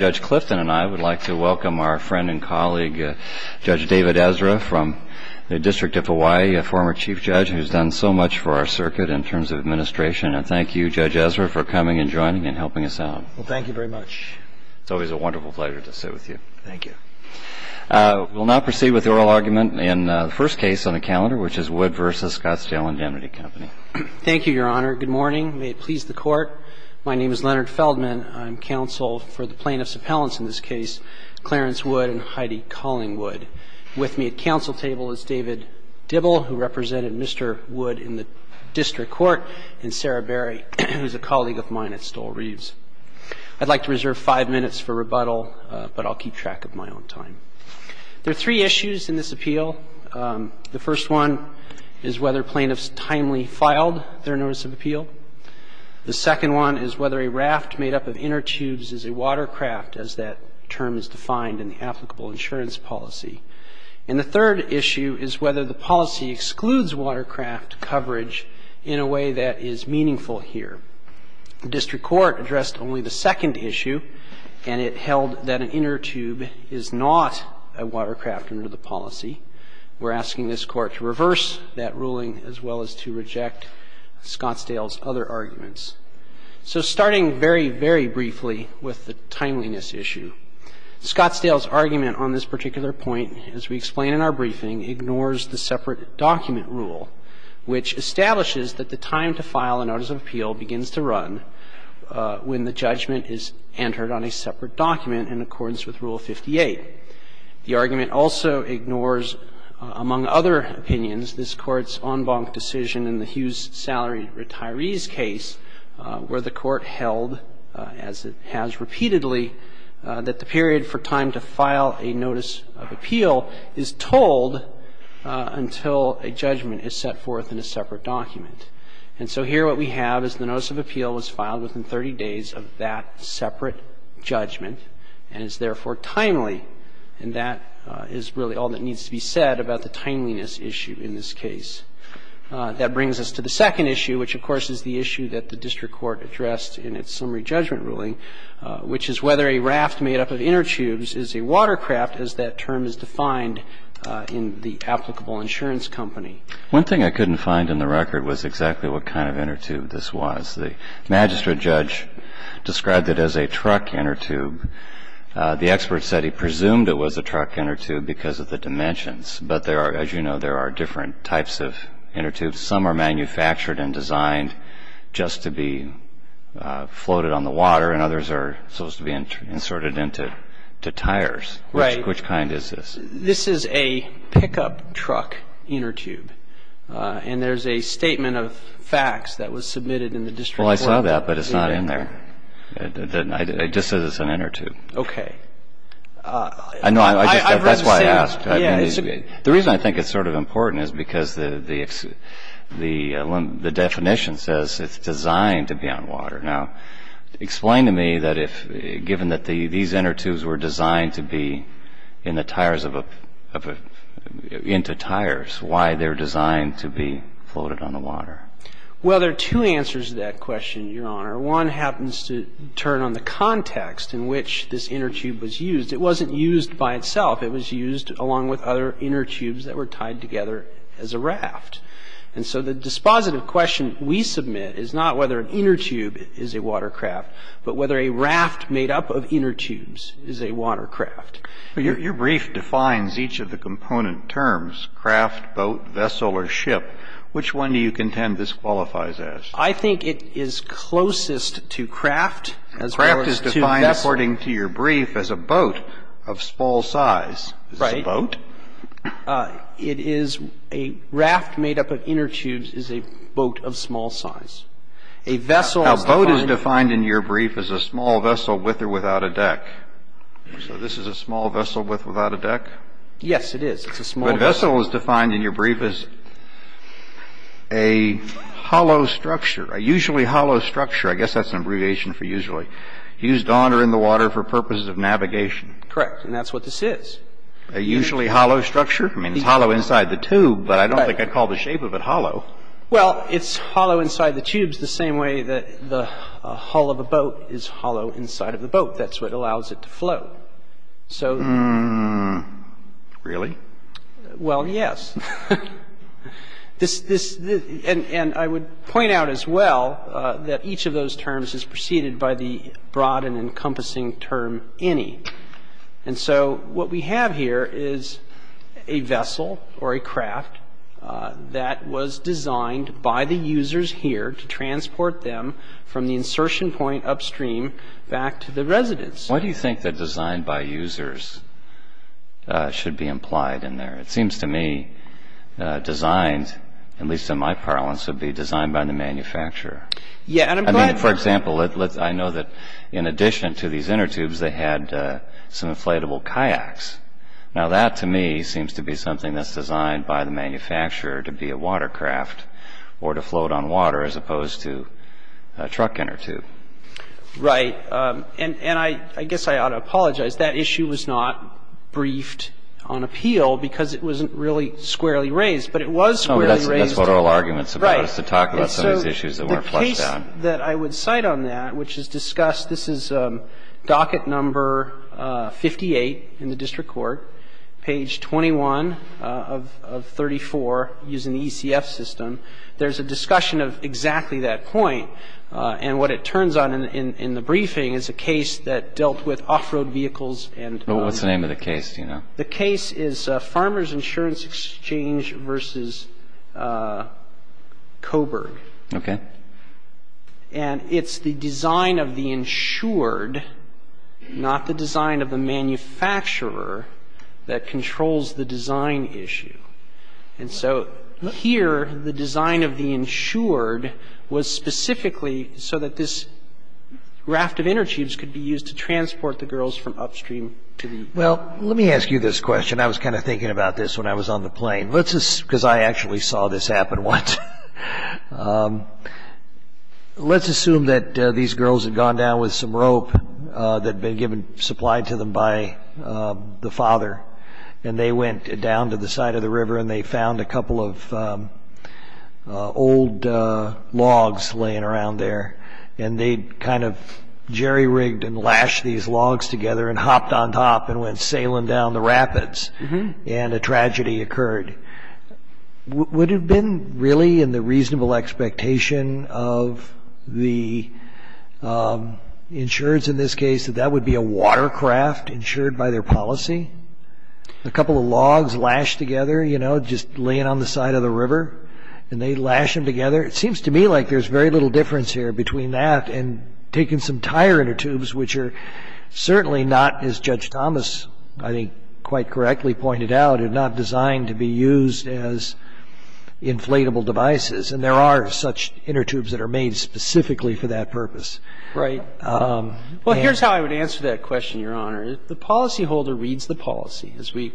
Judge Clifton and I would like to welcome our friend and colleague Judge David Ezra from the District of Hawaii, a former Chief Judge who has done so much for our circuit in terms of administration, and thank you, Judge Ezra, for coming and joining and helping us out. Well, thank you very much. It's always a wonderful pleasure to sit with you. Thank you. We'll now proceed with the oral argument in the first case on the calendar, which is Wood v. Scottsdale Indemnity Company. Thank you, Your Honor. Good morning. May it please the Court. My name is Leonard Feldman. I'm counsel for the plaintiffs' appellants in this case, Clarence Wood and Heidi Collingwood. With me at counsel table is David Dibble, who represented Mr. Wood in the district court, and Sarah Berry, who is a colleague of mine at Stoll Reeves. I'd like to reserve five minutes for rebuttal, but I'll keep track of my own time. There are three issues in this appeal. The first one is whether plaintiffs timely filed their notice of appeal. The second one is whether a raft made up of inner tubes is a watercraft, as that term is defined in the applicable insurance policy. And the third issue is whether the policy excludes watercraft coverage in a way that is meaningful here. The district court addressed only the second issue, and it held that an inner tube is not a watercraft under the policy. We're asking this Court to reverse that ruling as well as to reject Scottsdale's other arguments. So starting very, very briefly with the timeliness issue, Scottsdale's argument on this particular point, as we explain in our briefing, ignores the separate document rule, which establishes that the time to file a notice of appeal begins to run when the judgment is entered on a separate document in accordance with Rule 58. The argument also ignores, among other opinions, this Court's en banc decision in the Hughes Salary Retirees case where the Court held, as it has repeatedly, that the period for time to file a notice of appeal is told until a judgment is set forth in a separate document. And so here what we have is the notice of appeal was filed within 30 days of that separate judgment and is therefore timely. And that is really all that needs to be said about the timeliness issue in this case. That brings us to the second issue, which, of course, is the issue that the district court addressed in its summary judgment ruling, which is whether a raft made up of inner tubes is a watercraft, as that term is defined in the applicable insurance company. One thing I couldn't find in the record was exactly what kind of inner tube this was. The magistrate judge described it as a truck inner tube. The expert said he presumed it was a truck inner tube because of the dimensions. But there are, as you know, there are different types of inner tubes. Some are manufactured and designed just to be floated on the water and others are supposed to be inserted into tires. Which kind is this? This is a pickup truck inner tube. And there's a statement of facts that was submitted in the district court. Well, I saw that, but it's not in there. It just says it's an inner tube. Okay. I know. That's why I asked. The reason I think it's sort of important is because the definition says it's designed to be on water. Now, explain to me that if, given that these inner tubes were designed to be in the tires of a, into tires, why they're designed to be floated on the water. Well, there are two answers to that question, Your Honor. One happens to turn on the context in which this inner tube was used. It wasn't used by itself. It was used along with other inner tubes that were tied together as a raft. And so the dispositive question we submit is not whether an inner tube is a watercraft, but whether a raft made up of inner tubes is a watercraft. Your brief defines each of the component terms, craft, boat, vessel, or ship. Which one do you contend this qualifies as? I think it is closest to craft as well as to vessel. Craft is defined, according to your brief, as a boat of small size. Right. Is this a boat? It is a raft made up of inner tubes is a boat of small size. A vessel is defined. Now, boat is defined in your brief as a small vessel with or without a deck. So this is a small vessel with or without a deck? Yes, it is. It's a small boat. A vessel is defined in your brief as a hollow structure, a usually hollow structure. I guess that's an abbreviation for usually. Used on or in the water for purposes of navigation. Correct. And that's what this is. A usually hollow structure? I mean, it's hollow inside the tube, but I don't think I'd call the shape of it hollow. Well, it's hollow inside the tubes the same way that the hull of a boat is hollow inside of the boat. That's what allows it to flow. Really? Well, yes. And I would point out as well that each of those terms is preceded by the broad and encompassing term any. And so what we have here is a vessel or a craft that was designed by the users here to transport them from the insertion point upstream back to the residence. Why do you think that designed by users should be implied in there? It seems to me designed, at least in my parlance, would be designed by the manufacturer. I mean, for example, I know that in addition to these inner tubes they had some inflatable kayaks. Now that to me seems to be something that's designed by the manufacturer to be a water craft or to float on water as opposed to a truck inner tube. Right. And I guess I ought to apologize. That issue was not briefed on appeal because it wasn't really squarely raised. But it was squarely raised. That's what all arguments about is to talk about some of these issues that weren't flushed out. The case that I would cite on that, which is discussed, this is docket number 58 in the district court, page 21 of 34 using the ECF system. There's a discussion of exactly that point. And what it turns out in the briefing is a case that dealt with off-road vehicles and What's the name of the case? Do you know? The case is Farmers Insurance Exchange v. Coburg. Okay. And it's the design of the insured, not the design of the manufacturer, that controls the design issue. And so here, the design of the insured was specifically so that this raft of inner tubes could be used to transport the girls from upstream to the well. Well, let me ask you this question. I was kind of thinking about this when I was on the plane because I actually saw this happen once. Let's assume that these girls had gone down with some rope that had been supplied to them by the father. And they went down to the side of the river and they found a couple of old logs laying around there. And they kind of jerry-rigged and lashed these logs together and hopped on top and went sailing down the rapids. And a tragedy occurred. Would it have been really in the reasonable expectation of the insureds in this case that that would be a watercraft insured by their policy? A couple of logs lashed together, you know, just laying on the side of the river. And they lashed them together. It seems to me like there's very little difference here between that and taking some tire inner tubes, which are certainly not, as Judge Thomas, I think, quite correctly pointed out, are not designed to be used as inflatable devices. And there are such inner tubes that are made specifically for that purpose. Right. Well, here's how I would answer that question, Your Honor. The policyholder reads the policy, as we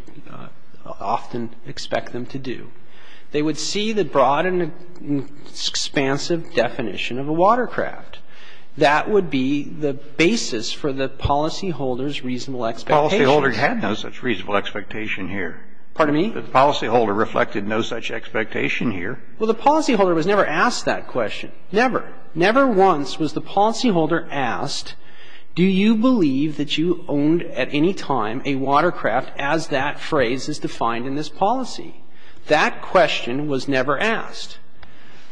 often expect them to do. They would see the broad and expansive definition of a watercraft. That would be the basis for the policyholder's reasonable expectation. The policyholder had no such reasonable expectation here. Pardon me? The policyholder reflected no such expectation here. Well, the policyholder was never asked that question. Never. Never once was the policyholder asked, do you believe that you owned at any time a watercraft as that phrase is defined in this policy? That question was never asked.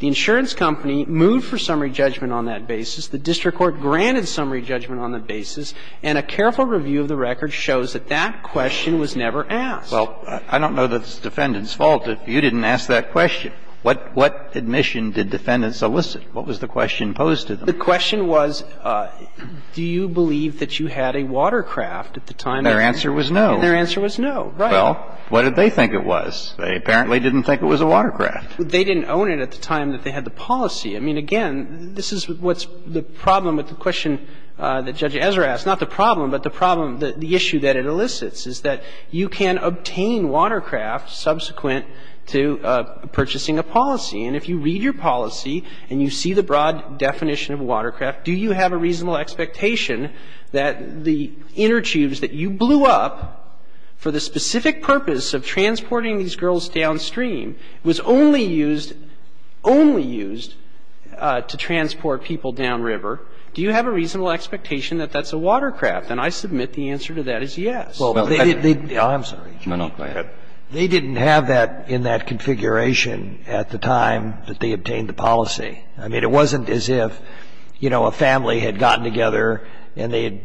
The insurance company moved for summary judgment on that basis. The district court granted summary judgment on that basis. And a careful review of the record shows that that question was never asked. Well, I don't know that it's the defendant's fault if you didn't ask that question. What admission did defendants elicit? What was the question posed to them? The question was, do you believe that you had a watercraft at the time? And their answer was no. And their answer was no. Right. Well, what did they think it was? They apparently didn't think it was a watercraft. They didn't own it at the time that they had the policy. I mean, again, this is what's the problem with the question that Judge Ezra asked. Not the problem, but the problem, the issue that it elicits is that you can obtain watercraft subsequent to purchasing a policy. And if you read your policy and you see the broad definition of a watercraft, do you have a reasonable expectation that the inner tubes that you blew up for the specific purpose of transporting these girls downstream was only used, only used to transport people downriver? Do you have a reasonable expectation that that's a watercraft? And I submit the answer to that is yes. Well, they didn't have that in that configuration at the time. They didn't have that in that configuration at the time that they obtained the policy. I mean, it wasn't as if, you know, a family had gotten together and they had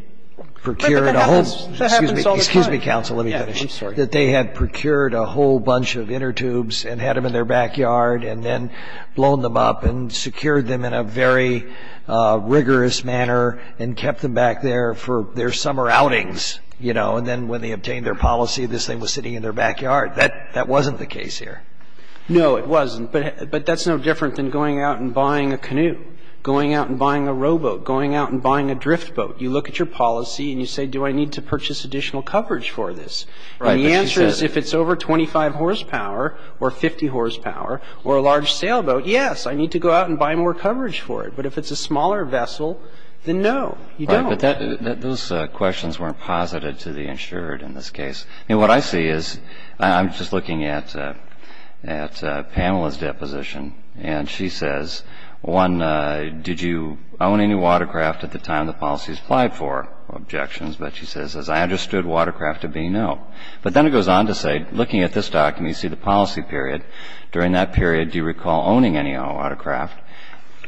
procured a whole... But that happens all the time. Excuse me. Excuse me, counsel. Let me finish. I'm sorry. That they had procured a whole bunch of inner tubes and had them in their backyard and then blown them up and secured them in a very rigorous manner and kept them back there for their summer outings, you know. And then when they obtained their policy, this thing was sitting in their backyard. That wasn't the case here. No, it wasn't. But that's no different than going out and buying a canoe, going out and buying a rowboat, going out and buying a drift boat. You look at your policy and you say, do I need to purchase additional coverage for this? And the answer is if it's over 25 horsepower or 50 horsepower or a large sailboat, yes, I need to go out and buy more coverage for it. But if it's a smaller vessel, then no, you don't. But those questions weren't posited to the insured in this case. And what I see is I'm just looking at Pamela's deposition, and she says, one, did you own any watercraft at the time the policies applied for? Objections. But she says, as I understood watercraft to be, no. But then it goes on to say, looking at this document, you see the policy period. During that period, do you recall owning any watercraft?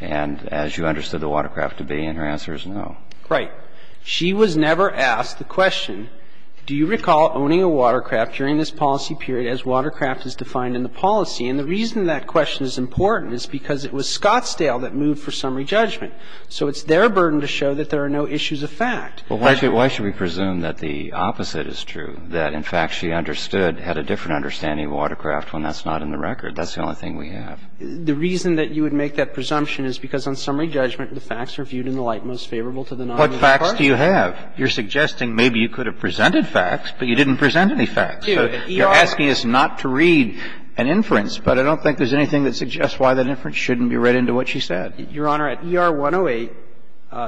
And as you understood the watercraft to be, and her answer is no. Right. She was never asked the question, do you recall owning a watercraft during this policy period as watercraft is defined in the policy? And the reason that question is important is because it was Scottsdale that moved for summary judgment. So it's their burden to show that there are no issues of fact. But why should we presume that the opposite is true, that in fact she understood or had a different understanding of watercraft when that's not in the record? That's the only thing we have. The reason that you would make that presumption is because on summary judgment the facts are viewed in the light most favorable to the non-law court. What facts do you have? You're suggesting maybe you could have presented facts, but you didn't present any facts. So you're asking us not to read an inference. But I don't think there's anything that suggests why that inference shouldn't be read into what she said. Your Honor, at ER 108,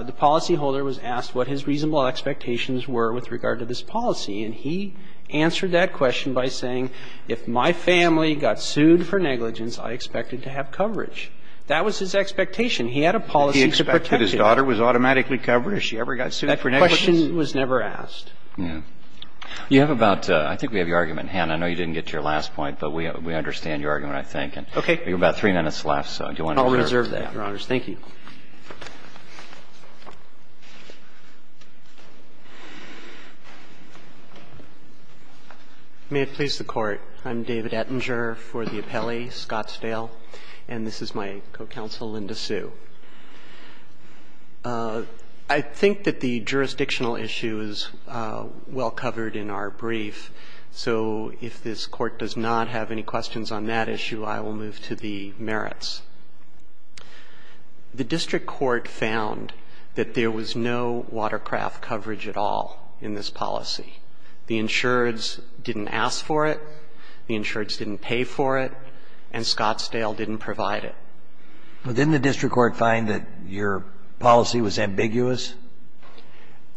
the policyholder was asked what his reasonable expectations were with regard to this policy. And he answered that question by saying, if my family got sued for negligence, I expected to have coverage. That was his expectation. He had a policy to protect it. Did he expect that his daughter was automatically covered if she ever got sued for negligence? That question was never asked. Yeah. You have about – I think we have your argument, Hann. I know you didn't get to your last point, but we understand your argument, I think. Okay. You have about three minutes left, so do you want to reserve that? I'll reserve that, Your Honors. Thank you. May it please the Court. I'm David Ettinger for the appellee, Scottsdale, and this is my co-counsel, Linda Sue. I think that the jurisdictional issue is well covered in our brief. So if this Court does not have any questions on that issue, I will move to the merits. The district court found that there was no watercraft coverage at all in this policy. The insureds didn't ask for it, the insureds didn't pay for it, and Scottsdale didn't provide it. Well, didn't the district court find that your policy was ambiguous?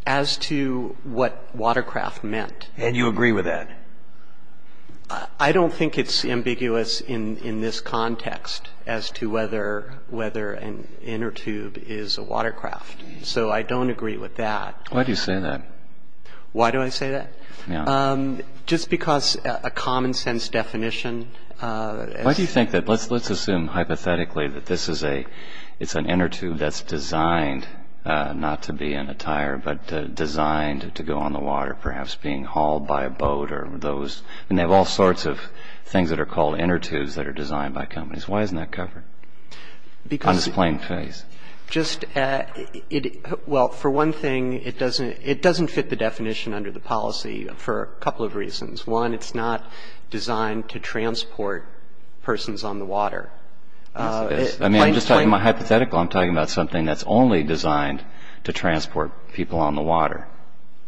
As to what watercraft meant. And you agree with that? I don't think it's ambiguous in this context as to whether an inner tube is a watercraft. So I don't agree with that. Why do you say that? Why do I say that? Just because a common-sense definition. Why do you think that? Let's assume hypothetically that this is a, it's an inner tube that's designed not to be an attire, but designed to go on the water, perhaps being hauled by a boat or those, and they have all sorts of things that are called inner tubes that are designed by companies. Why isn't that covered? On this plain face. Just, well, for one thing, it doesn't fit the definition under the policy for a couple of reasons. One, it's not designed to transport persons on the water. Yes, it is. I mean, I'm just talking about hypothetical. I'm talking about something that's only designed to transport people on the water.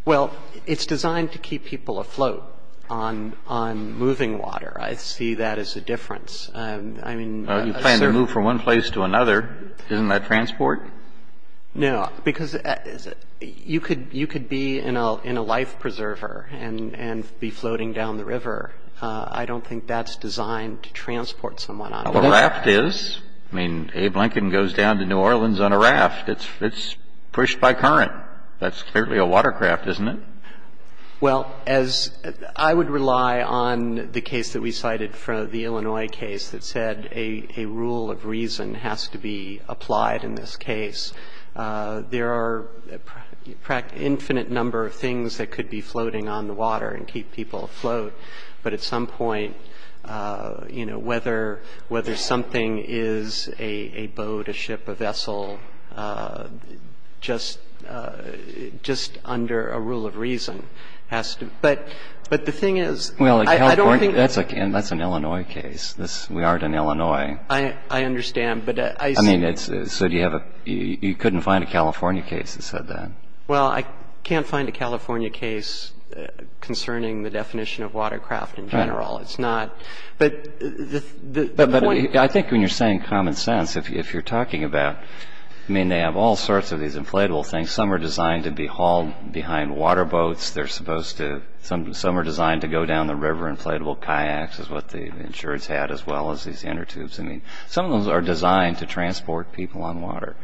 Well, it's designed to keep people afloat on moving water. I see that as a difference. I mean. You plan to move from one place to another. Isn't that transport? No. Because you could be in a life preserver and be floating down the river. I don't think that's designed to transport someone on the water. A raft is. I mean, Abe Lincoln goes down to New Orleans on a raft. It's pushed by current. That's clearly a watercraft, isn't it? Well, as I would rely on the case that we cited for the Illinois case that said a rule of reason has to be applied in this case, there are an infinite number of things that could be floating on the water and keep people afloat, but at some point, you know, whether something is a boat, a ship, a vessel, just under a rule of reason has to. But the thing is, I don't think. Well, in California, that's an Illinois case. We are in Illinois. I understand. But I. I mean, it's. So do you have a. You couldn't find a California case that said that. Well, I can't find a California case concerning the definition of watercraft in general. It's not. But the point. I think when you're saying common sense, if you're talking about. I mean, they have all sorts of these inflatable things. Some are designed to be hauled behind water boats. They're supposed to. Some are designed to go down the river. Inflatable kayaks is what the insurance had, as well as these inner tubes. I mean, some of those are designed to transport people on water.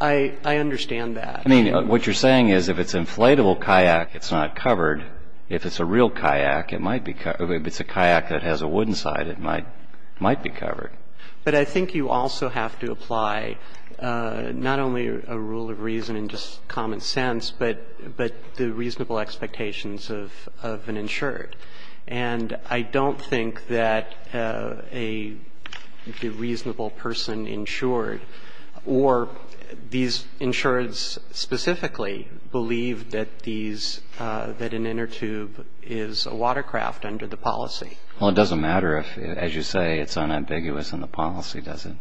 I. I understand that. I mean, what you're saying is if it's inflatable kayak, it's not covered. If it's a real kayak, it might be. It's a kayak that has a wooden side. It might. Might be covered. But I think you also have to apply not only a rule of reason and just common sense, but the reasonable expectations of an insured. And I don't think that a reasonable person insured or these insureds specifically believe that these, that an inner tube is a watercraft under the policy. Well, it doesn't matter if, as you say, it's unambiguous in the policy, does it?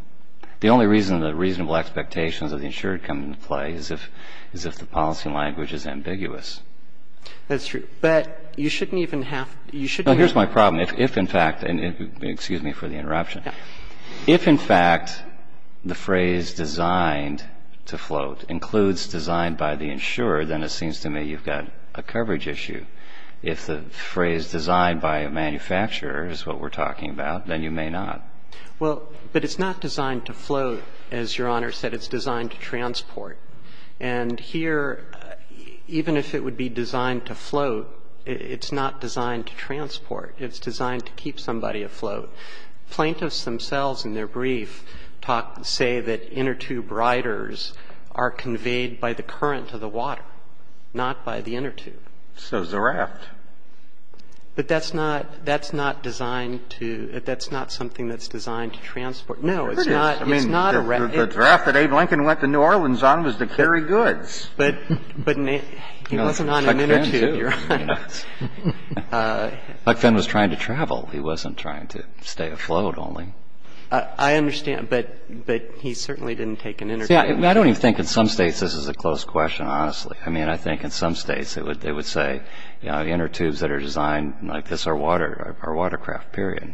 The only reason the reasonable expectations of the insured come into play is if, is if the policy language is ambiguous. That's true. But you shouldn't even have, you shouldn't have. No, here's my problem. If, in fact, and excuse me for the interruption. Yeah. If, in fact, the phrase designed to float includes designed by the insured, then it seems to me you've got a coverage issue. If the phrase designed by a manufacturer is what we're talking about, then you may not. Well, but it's not designed to float. As Your Honor said, it's designed to transport. And here, even if it would be designed to float, it's not designed to transport. It's designed to keep somebody afloat. Plaintiffs themselves in their brief talk, say that inner tube riders are conveyed by the current of the water, not by the inner tube. So is the raft. But that's not, that's not designed to, that's not something that's designed to transport. No, it's not, it's not a raft. The raft that Abe Lincoln went to New Orleans on was to carry goods. But, but he wasn't on an inner tube, Your Honor. Huck Finn was trying to travel. He wasn't trying to stay afloat only. I understand. But, but he certainly didn't take an inner tube. See, I don't even think in some states this is a close question, honestly. I mean, I think in some states it would say, you know, the inner tubes that are designed like this are water, are watercraft, period.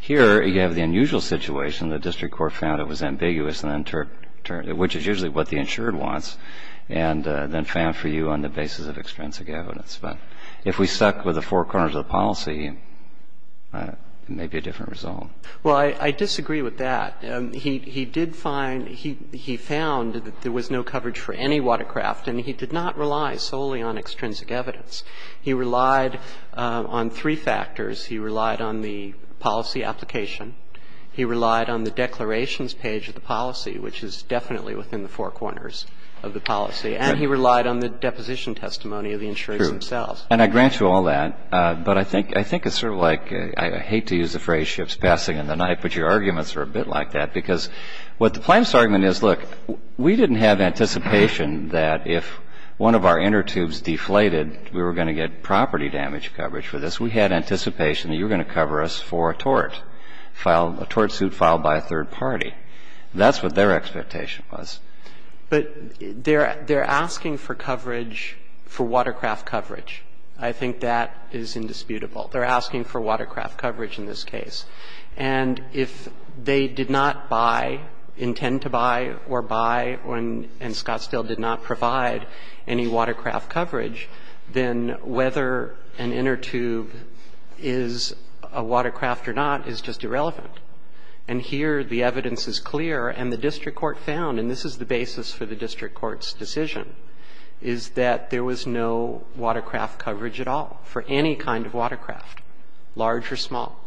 Here, you have the unusual situation. The district court found it was ambiguous, which is usually what the insured wants, and then found for you on the basis of extrinsic evidence. But if we stuck with the four corners of the policy, it may be a different result. Well, I disagree with that. He did find, he found that there was no coverage for any watercraft, and he did not rely solely on extrinsic evidence. He relied on three factors. He relied on the policy application. He relied on the declarations page of the policy, which is definitely within the four corners of the policy. And he relied on the deposition testimony of the insurers themselves. True. And I grant you all that. But I think it's sort of like, I hate to use the phrase, but your arguments are a bit like that, because what the plaintiff's argument is, look, we didn't have anticipation that if one of our inner tubes deflated, we were going to get property damage coverage for this. We had anticipation that you were going to cover us for a tort, a tort suit filed by a third party. That's what their expectation was. But they're asking for coverage, for watercraft coverage. I think that is indisputable. They're asking for watercraft coverage in this case. And if they did not buy, intend to buy or buy, and Scottsdale did not provide any watercraft coverage, then whether an inner tube is a watercraft or not is just irrelevant. And here the evidence is clear, and the district court found, and this is the basis for the district court's decision, is that there was no watercraft coverage at all for any kind of watercraft, large or small.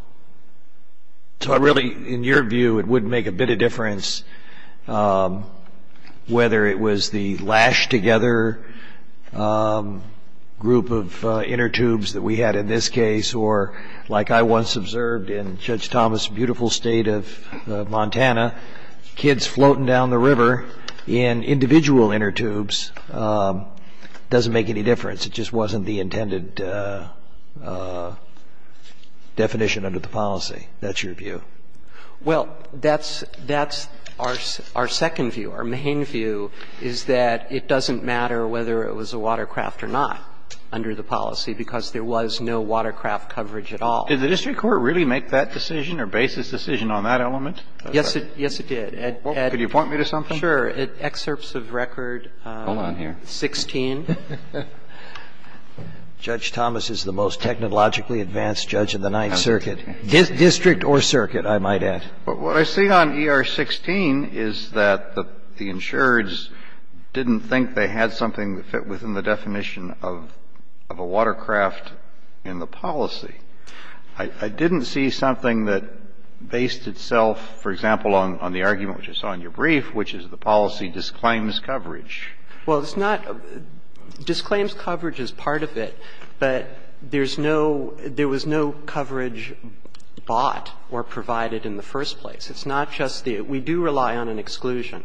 So I really, in your view, it wouldn't make a bit of difference whether it was the lash-together group of inner tubes that we had in this case or, like I once observed in Judge Thomas' beautiful state of Montana, kids floating down the river in individual inner tubes. It doesn't make any difference. It just wasn't the intended definition under the policy. That's your view. Well, that's our second view. Our main view is that it doesn't matter whether it was a watercraft or not under the policy because there was no watercraft coverage at all. Did the district court really make that decision or base this decision on that element? Yes, it did. Could you point me to something? Sure. Excerpts of Record 16. Hold on here. Judge Thomas is the most technologically advanced judge in the Ninth Circuit, district or circuit, I might add. What I see on ER 16 is that the insureds didn't think they had something that fit within the definition of a watercraft in the policy. I didn't see something that based itself, for example, on the argument which I saw in your brief, which is the policy disclaims coverage. Well, it's not — disclaims coverage is part of it, but there's no — there was no coverage bought or provided in the first place. It's not just the — we do rely on an exclusion,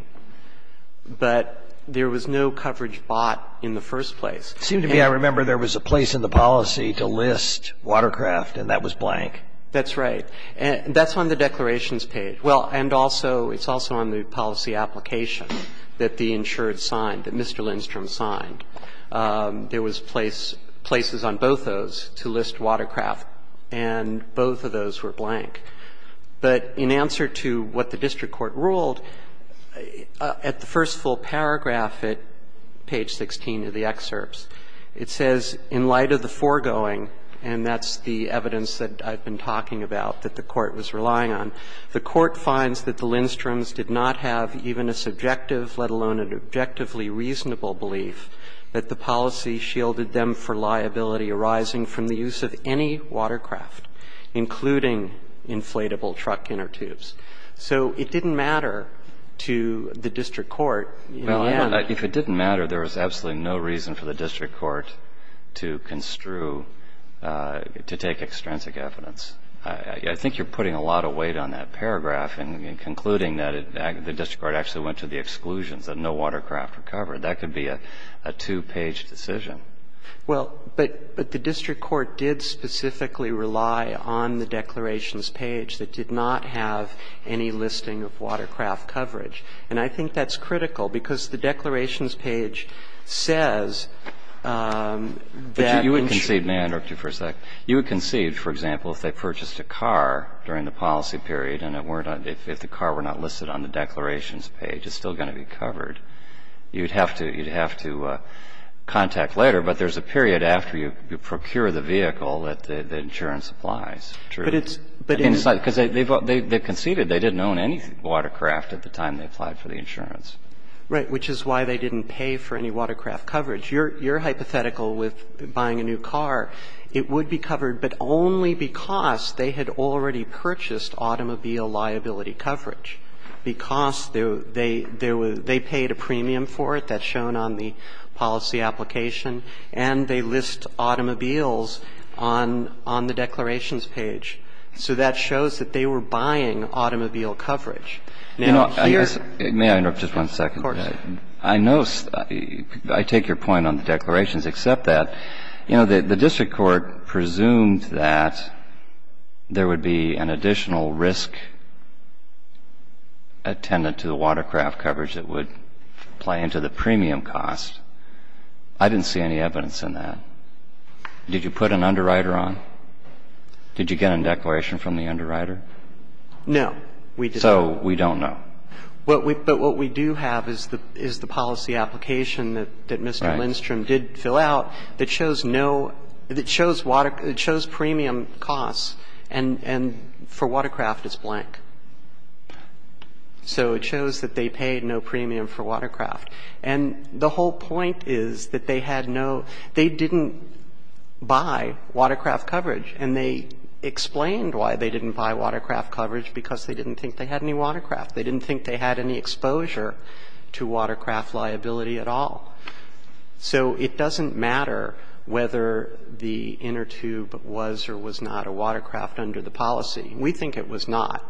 but there was no coverage bought in the first place. It seemed to me I remember there was a place in the policy to list watercraft and that was blank. That's right. That's on the declarations page. Well, and also — it's also on the policy application that the insured signed, that Mr. Lindstrom signed. There was place — places on both those to list watercraft, and both of those were blank. But in answer to what the district court ruled, at the first full paragraph at page 16 of the excerpts, it says in light of the foregoing, and that's the evidence that I've been talking about that the court was relying on, the court finds that the Lindstroms did not have even a subjective, let alone an objectively reasonable belief that the policy shielded them for liability arising from the use of any watercraft, including inflatable truck inner tubes. So it didn't matter to the district court. Well, if it didn't matter, there was absolutely no reason for the district court to construe — to take extrinsic evidence. I think you're putting a lot of weight on that paragraph and concluding that the district court actually went to the exclusions, that no watercraft were covered. That could be a two-page decision. Well, but the district court did specifically rely on the declarations page that did not have any listing of watercraft coverage. And I think that's critical, because the declarations page says that insurance was covered. But you would concede — may I interrupt you for a second? You would concede, for example, if they purchased a car during the policy period and it weren't on — if the car were not listed on the declarations page, it's still going to be covered. You'd have to — you'd have to contact later, but there's a period after you procure the vehicle that the insurance applies. True. But it's — Because they conceded they didn't own any watercraft at the time they applied for the insurance. Right. Which is why they didn't pay for any watercraft coverage. Your hypothetical with buying a new car, it would be covered, but only because they had already purchased automobile liability coverage, because they paid a premium for it. That's shown on the policy application. And they list automobiles on the declarations page. So that shows that they were buying automobile coverage. Now, here — May I interrupt just one second? Of course. I know — I take your point on the declarations, except that, you know, the district court presumed that there would be an additional risk attendant to the watercraft coverage that would play into the premium cost. I didn't see any evidence in that. Did you put an underwriter on? Did you get a declaration from the underwriter? No. So we don't know. But what we do have is the policy application that Mr. Lindstrom did fill out that shows no — that shows premium costs, and for watercraft, it's blank. So it shows that they paid no premium for watercraft. And the whole point is that they had no — they didn't buy watercraft coverage. And they explained why they didn't buy watercraft coverage, because they didn't think they had any watercraft. They didn't think they had any exposure to watercraft liability at all. So it doesn't matter whether the inner tube was or was not a watercraft under the policy. We think it was not.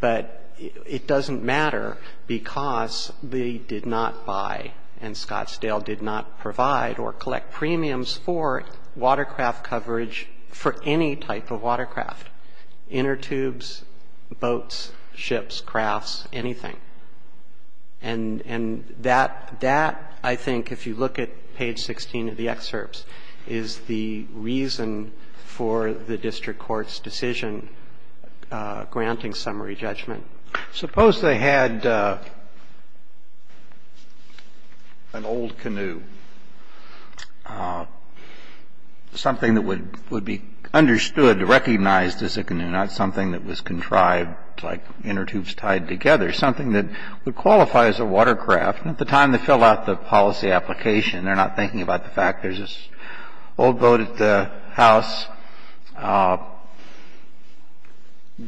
But it doesn't matter because they did not buy and Scottsdale did not provide or collect premiums for watercraft coverage for any type of watercraft, inner tubes, boats, ships, crafts, anything. And that, I think, if you look at page 16 of the excerpts, is the reason for the district court's decision granting summary judgment. Suppose they had an old canoe, something that would be understood, recognized as a canoe, not something that was contrived, like inner tubes tied together, something that would qualify as a watercraft. And at the time they filled out the policy application, they're not thinking about the fact that there's this old boat at the house.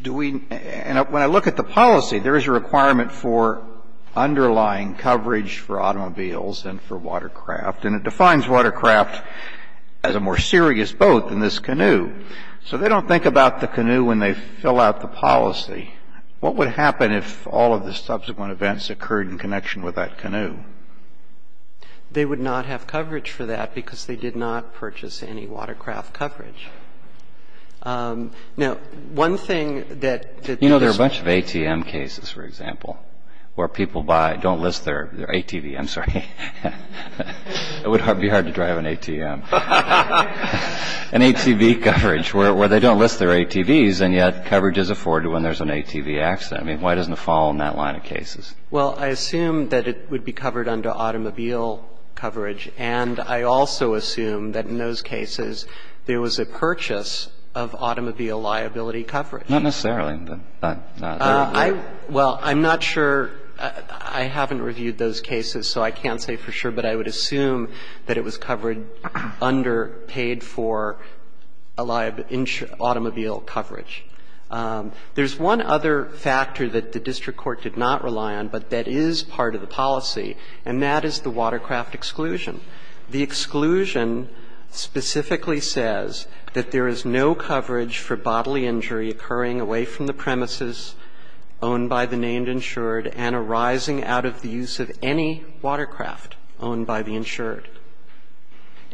Do we ñ and when I look at the policy, there is a requirement for underlying coverage for automobiles and for watercraft, and it defines watercraft as a more serious boat than this canoe. So they don't think about the canoe when they fill out the policy. What would happen if all of the subsequent events occurred in connection with that canoe? They would not have coverage for that because they did not purchase any watercraft coverage. Now, one thing that ñ You know, there are a bunch of ATM cases, for example, where people buy ñ don't list their ATV. I'm sorry. It would be hard to drive an ATM. An ATV coverage, where they don't list their ATVs, and yet coverage is afforded when there's an ATV accident. I mean, why doesn't it fall in that line of cases? Well, I assume that it would be covered under automobile coverage, and I also assume that in those cases there was a purchase of automobile liability coverage. Not necessarily. Well, I'm not sure. I haven't reviewed those cases, so I can't say for sure, but I would assume that it was covered under paid for automobile coverage. There's one other factor that the district court did not rely on, but that is part of the policy, and that is the watercraft exclusion. The exclusion specifically says that there is no coverage for bodily injury occurring away from the premises owned by the named insured and arising out of the use of any watercraft owned by the insured.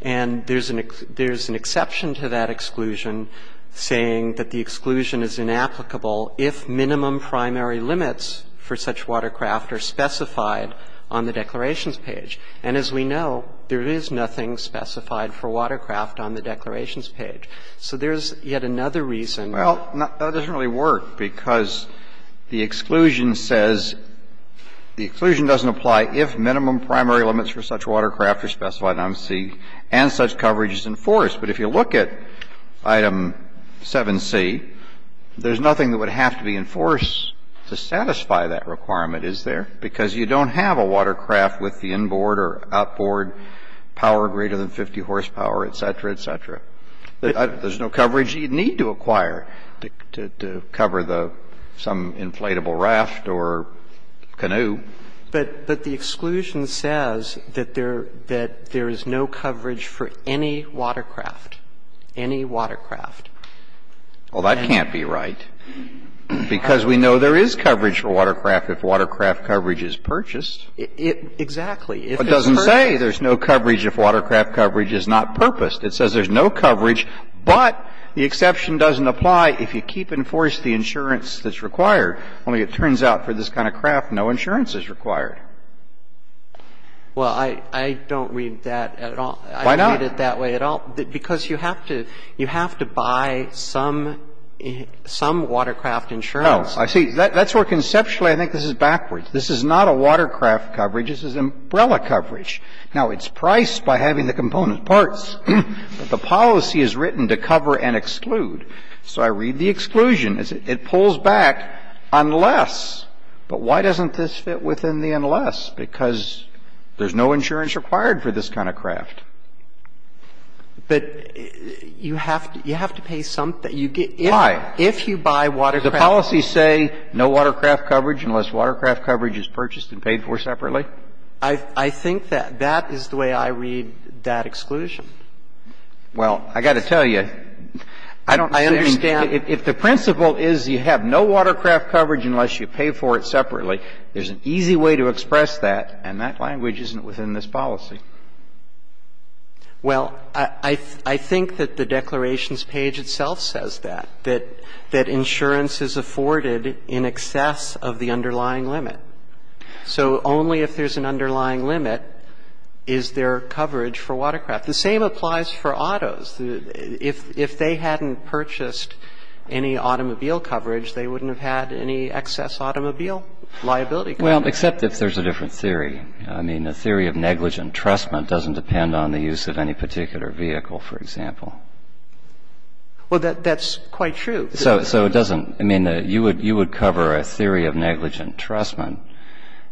And there's an exception to that exclusion saying that the exclusion is inapplicable if minimum primary limits for such watercraft are specified on the declarations page. And as we know, there is nothing specified for watercraft on the declarations page. So there's yet another reason. Well, that doesn't really work, because the exclusion says the exclusion doesn't apply if minimum primary limits for such watercraft are specified on C and such coverage is enforced. But if you look at item 7C, there's nothing that would have to be enforced to satisfy that requirement, is there, because you don't have a watercraft with the inboard or outboard power greater than 50 horsepower, et cetera, et cetera. There's no coverage you'd need to acquire to cover some inflatable raft or canoe. But the exclusion says that there is no coverage for any watercraft, any watercraft. Well, that can't be right, because we know there is coverage for watercraft if watercraft coverage is purchased. Exactly. It doesn't say there's no coverage if watercraft coverage is not purposed. It says there's no coverage, but the exception doesn't apply if you keep enforced the insurance that's required. Only it turns out for this kind of craft, no insurance is required. Well, I don't read that at all. Why not? I don't read it that way at all, because you have to buy some watercraft insurance. No. See, that's where conceptually I think this is backwards. This is not a watercraft coverage. This is umbrella coverage. Now, it's priced by having the component parts, but the policy is written to cover and exclude. So I read the exclusion. It pulls back unless. But why doesn't this fit within the unless? Because there's no insurance required for this kind of craft. But you have to pay something. Why? If you buy watercraft. Does the policy say no watercraft coverage unless watercraft coverage is purchased and paid for separately? I think that that is the way I read that exclusion. Well, I got to tell you, I don't understand. If the principle is you have no watercraft coverage unless you pay for it separately, there's an easy way to express that, and that language isn't within this policy. Well, I think that the declarations page itself says that, that insurance is afforded in excess of the underlying limit. So only if there's an underlying limit is there coverage for watercraft. The same applies for autos. If they hadn't purchased any automobile coverage, they wouldn't have had any excess automobile liability coverage. Well, except if there's a different theory. I mean, a theory of negligent trustment doesn't depend on the use of any particular vehicle, for example. Well, that's quite true. So it doesn't. I mean, you would cover a theory of negligent trustment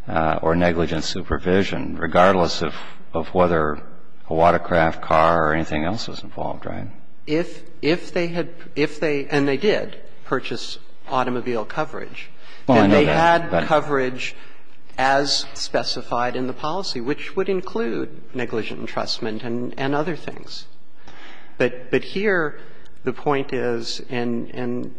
or negligent supervision regardless of whether a watercraft, car or anything else was involved, right? If they had, if they, and they did, purchase automobile coverage, then they had coverage as specified in the policy, which would include negligent entrustment and other things. But here the point is, and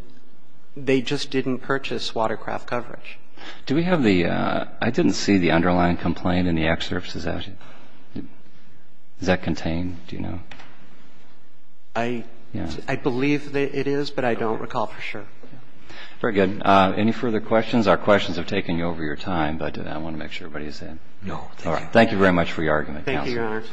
they just didn't purchase watercraft coverage. Do we have the, I didn't see the underlying complaint in the excerpt. Does that contain, do you know? I believe that it is, but I don't recall for sure. Very good. Any further questions? Our questions have taken you over your time, but I want to make sure everybody is in. No, thank you. Thank you very much for your argument, counsel. Thank you, Your Honor.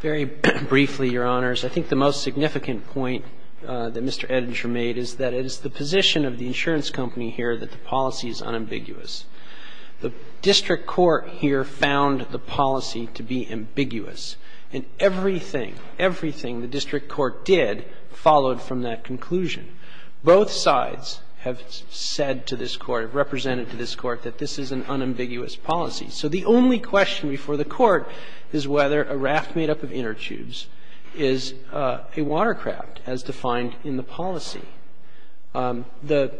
Very briefly, Your Honors. I think the most significant point that Mr. Edinger made is that it is the position of the insurance company here that the policy is unambiguous. The district court here found the policy to be ambiguous, and everything, everything the district court did followed from that conclusion. Both sides have said to this Court, have represented to this Court that this is an unambiguous policy. So the only question before the Court is whether a raft made up of inner tubes is a watercraft, as defined in the policy. The ----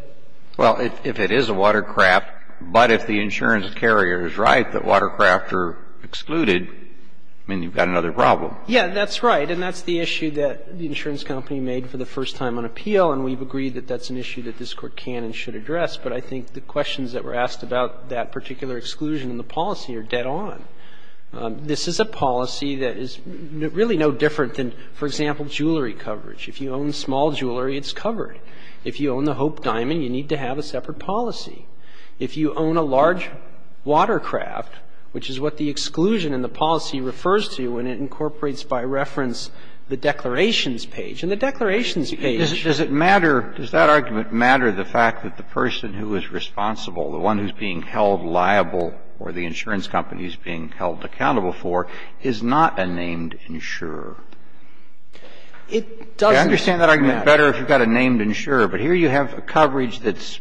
Well, if it is a watercraft, but if the insurance carrier is right that watercraft are excluded, then you've got another problem. Yeah, that's right. And that's the issue that the insurance company made for the first time on appeal, and we've agreed that that's an issue that this Court can and should address. But I think the questions that were asked about that particular exclusion in the policy are dead on. This is a policy that is really no different than, for example, jewelry coverage. If you own small jewelry, it's covered. If you own the Hope Diamond, you need to have a separate policy. If you own a large watercraft, which is what the exclusion in the policy refers to, and it incorporates by reference the declarations page. And the declarations page ---- Does it matter, does that argument matter, the fact that the person who is responsible, the one who is being held liable or the insurance company is being held accountable for, is not a named insurer? It doesn't ---- I understand that argument better if you've got a named insurer. But here you have coverage that's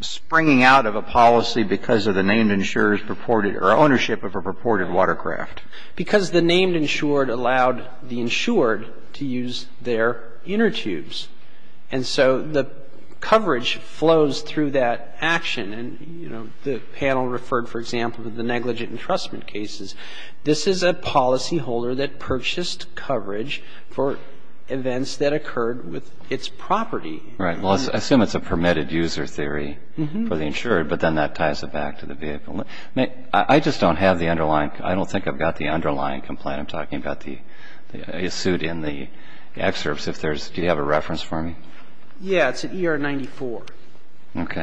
springing out of a policy because of the named insurer's purported or ownership of a purported watercraft. Because the named insured allowed the insured to use their inner tubes. And so the coverage flows through that action. And, you know, the panel referred, for example, to the negligent entrustment cases. This is a policyholder that purchased coverage for events that occurred with its property. Right. Well, I assume it's a permitted user theory for the insured, but then that ties it back to the vehicle. I just don't have the underlying ---- I don't think I've got the underlying complaint. I'm talking about the suit in the excerpts. If there's ---- Do you have a reference for me? Yeah. It's at ER 94. Okay.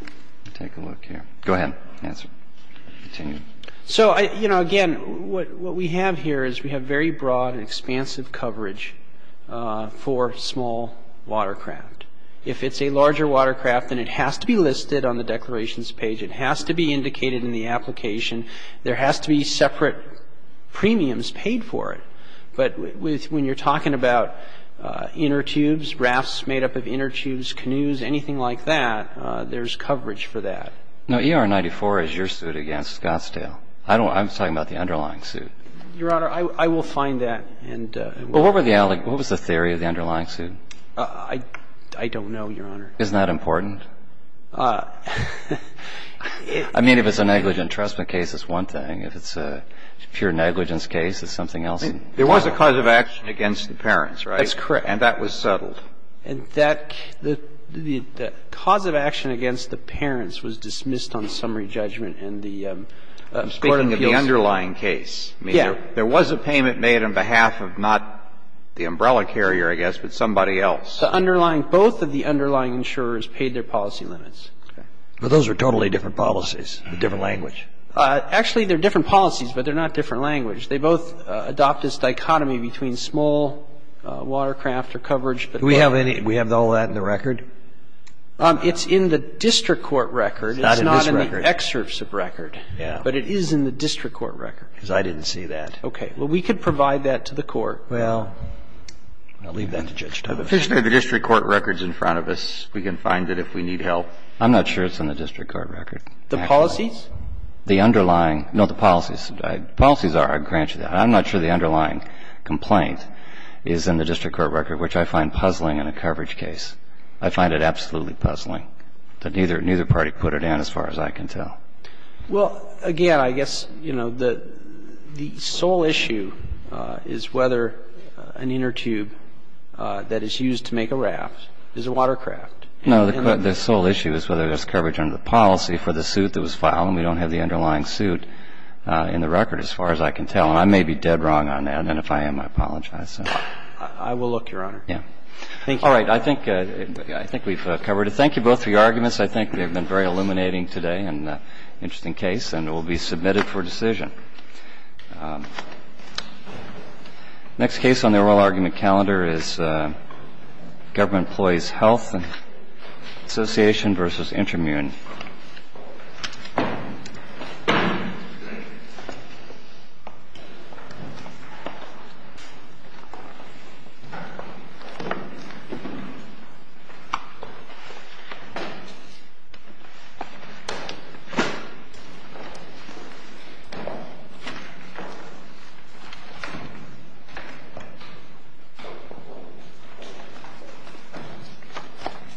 Let me take a look here. Go ahead. Answer. Continue. So, you know, again, what we have here is we have very broad and expansive coverage for small watercraft. If it's a larger watercraft, then it has to be listed on the declarations page. It has to be indicated in the application. There has to be separate premiums paid for it. But when you're talking about inner tubes, rafts made up of inner tubes, canoes, anything like that, there's coverage for that. Now, ER 94 is your suit against Scottsdale. I don't ---- I'm talking about the underlying suit. Your Honor, I will find that and ---- Well, what were the ---- What was the theory of the underlying suit? I don't know, Your Honor. Isn't that important? I mean, if it's a negligent entrustment case, it's one thing. If it's a pure negligence case, it's something else. There was a cause of action against the parents, right? That's correct. And that was settled. And that ---- the cause of action against the parents was dismissed on summary judgment and the Court of Appeals ---- I'm speaking of the underlying case. Yeah. I mean, there was a payment made on behalf of not the umbrella carrier, I guess, but somebody else. The underlying ---- both of the underlying insurers paid their policy limits. Okay. But those are totally different policies, a different language. Actually, they're different policies, but they're not different language. They both adopt this dichotomy between small watercraft or coverage. Do we have any ---- do we have all that in the record? It's in the district court record. It's not in this record. It's not in the excerpts of record. Yeah. But it is in the district court record. Because I didn't see that. Okay. Well, we could provide that to the Court. Well, I'll leave that to Judge Tuber. Officially, the district court record is in front of us. We can find it if we need help. I'm not sure it's in the district court record. The policies? The underlying ---- no, the policies. The policies are. I grant you that. I'm not sure the underlying complaint is in the district court record, which I find puzzling in a coverage case. I find it absolutely puzzling that neither ---- neither party put it in, as far as I can tell. Well, again, I guess, you know, the sole issue is whether an inner tube that is used to make a raft is a watercraft. No, the sole issue is whether there's coverage under the policy for the suit that was filed. And we don't have the underlying suit in the record, as far as I can tell. And I may be dead wrong on that. And if I am, I apologize. I will look, Your Honor. Yeah. I think we've covered it. Thank you both for your arguments. I think they've been very illuminating today and an interesting case and will be submitted for decision. Next case on the oral argument calendar is Government Employees Health Association v. Intermune. Thank you.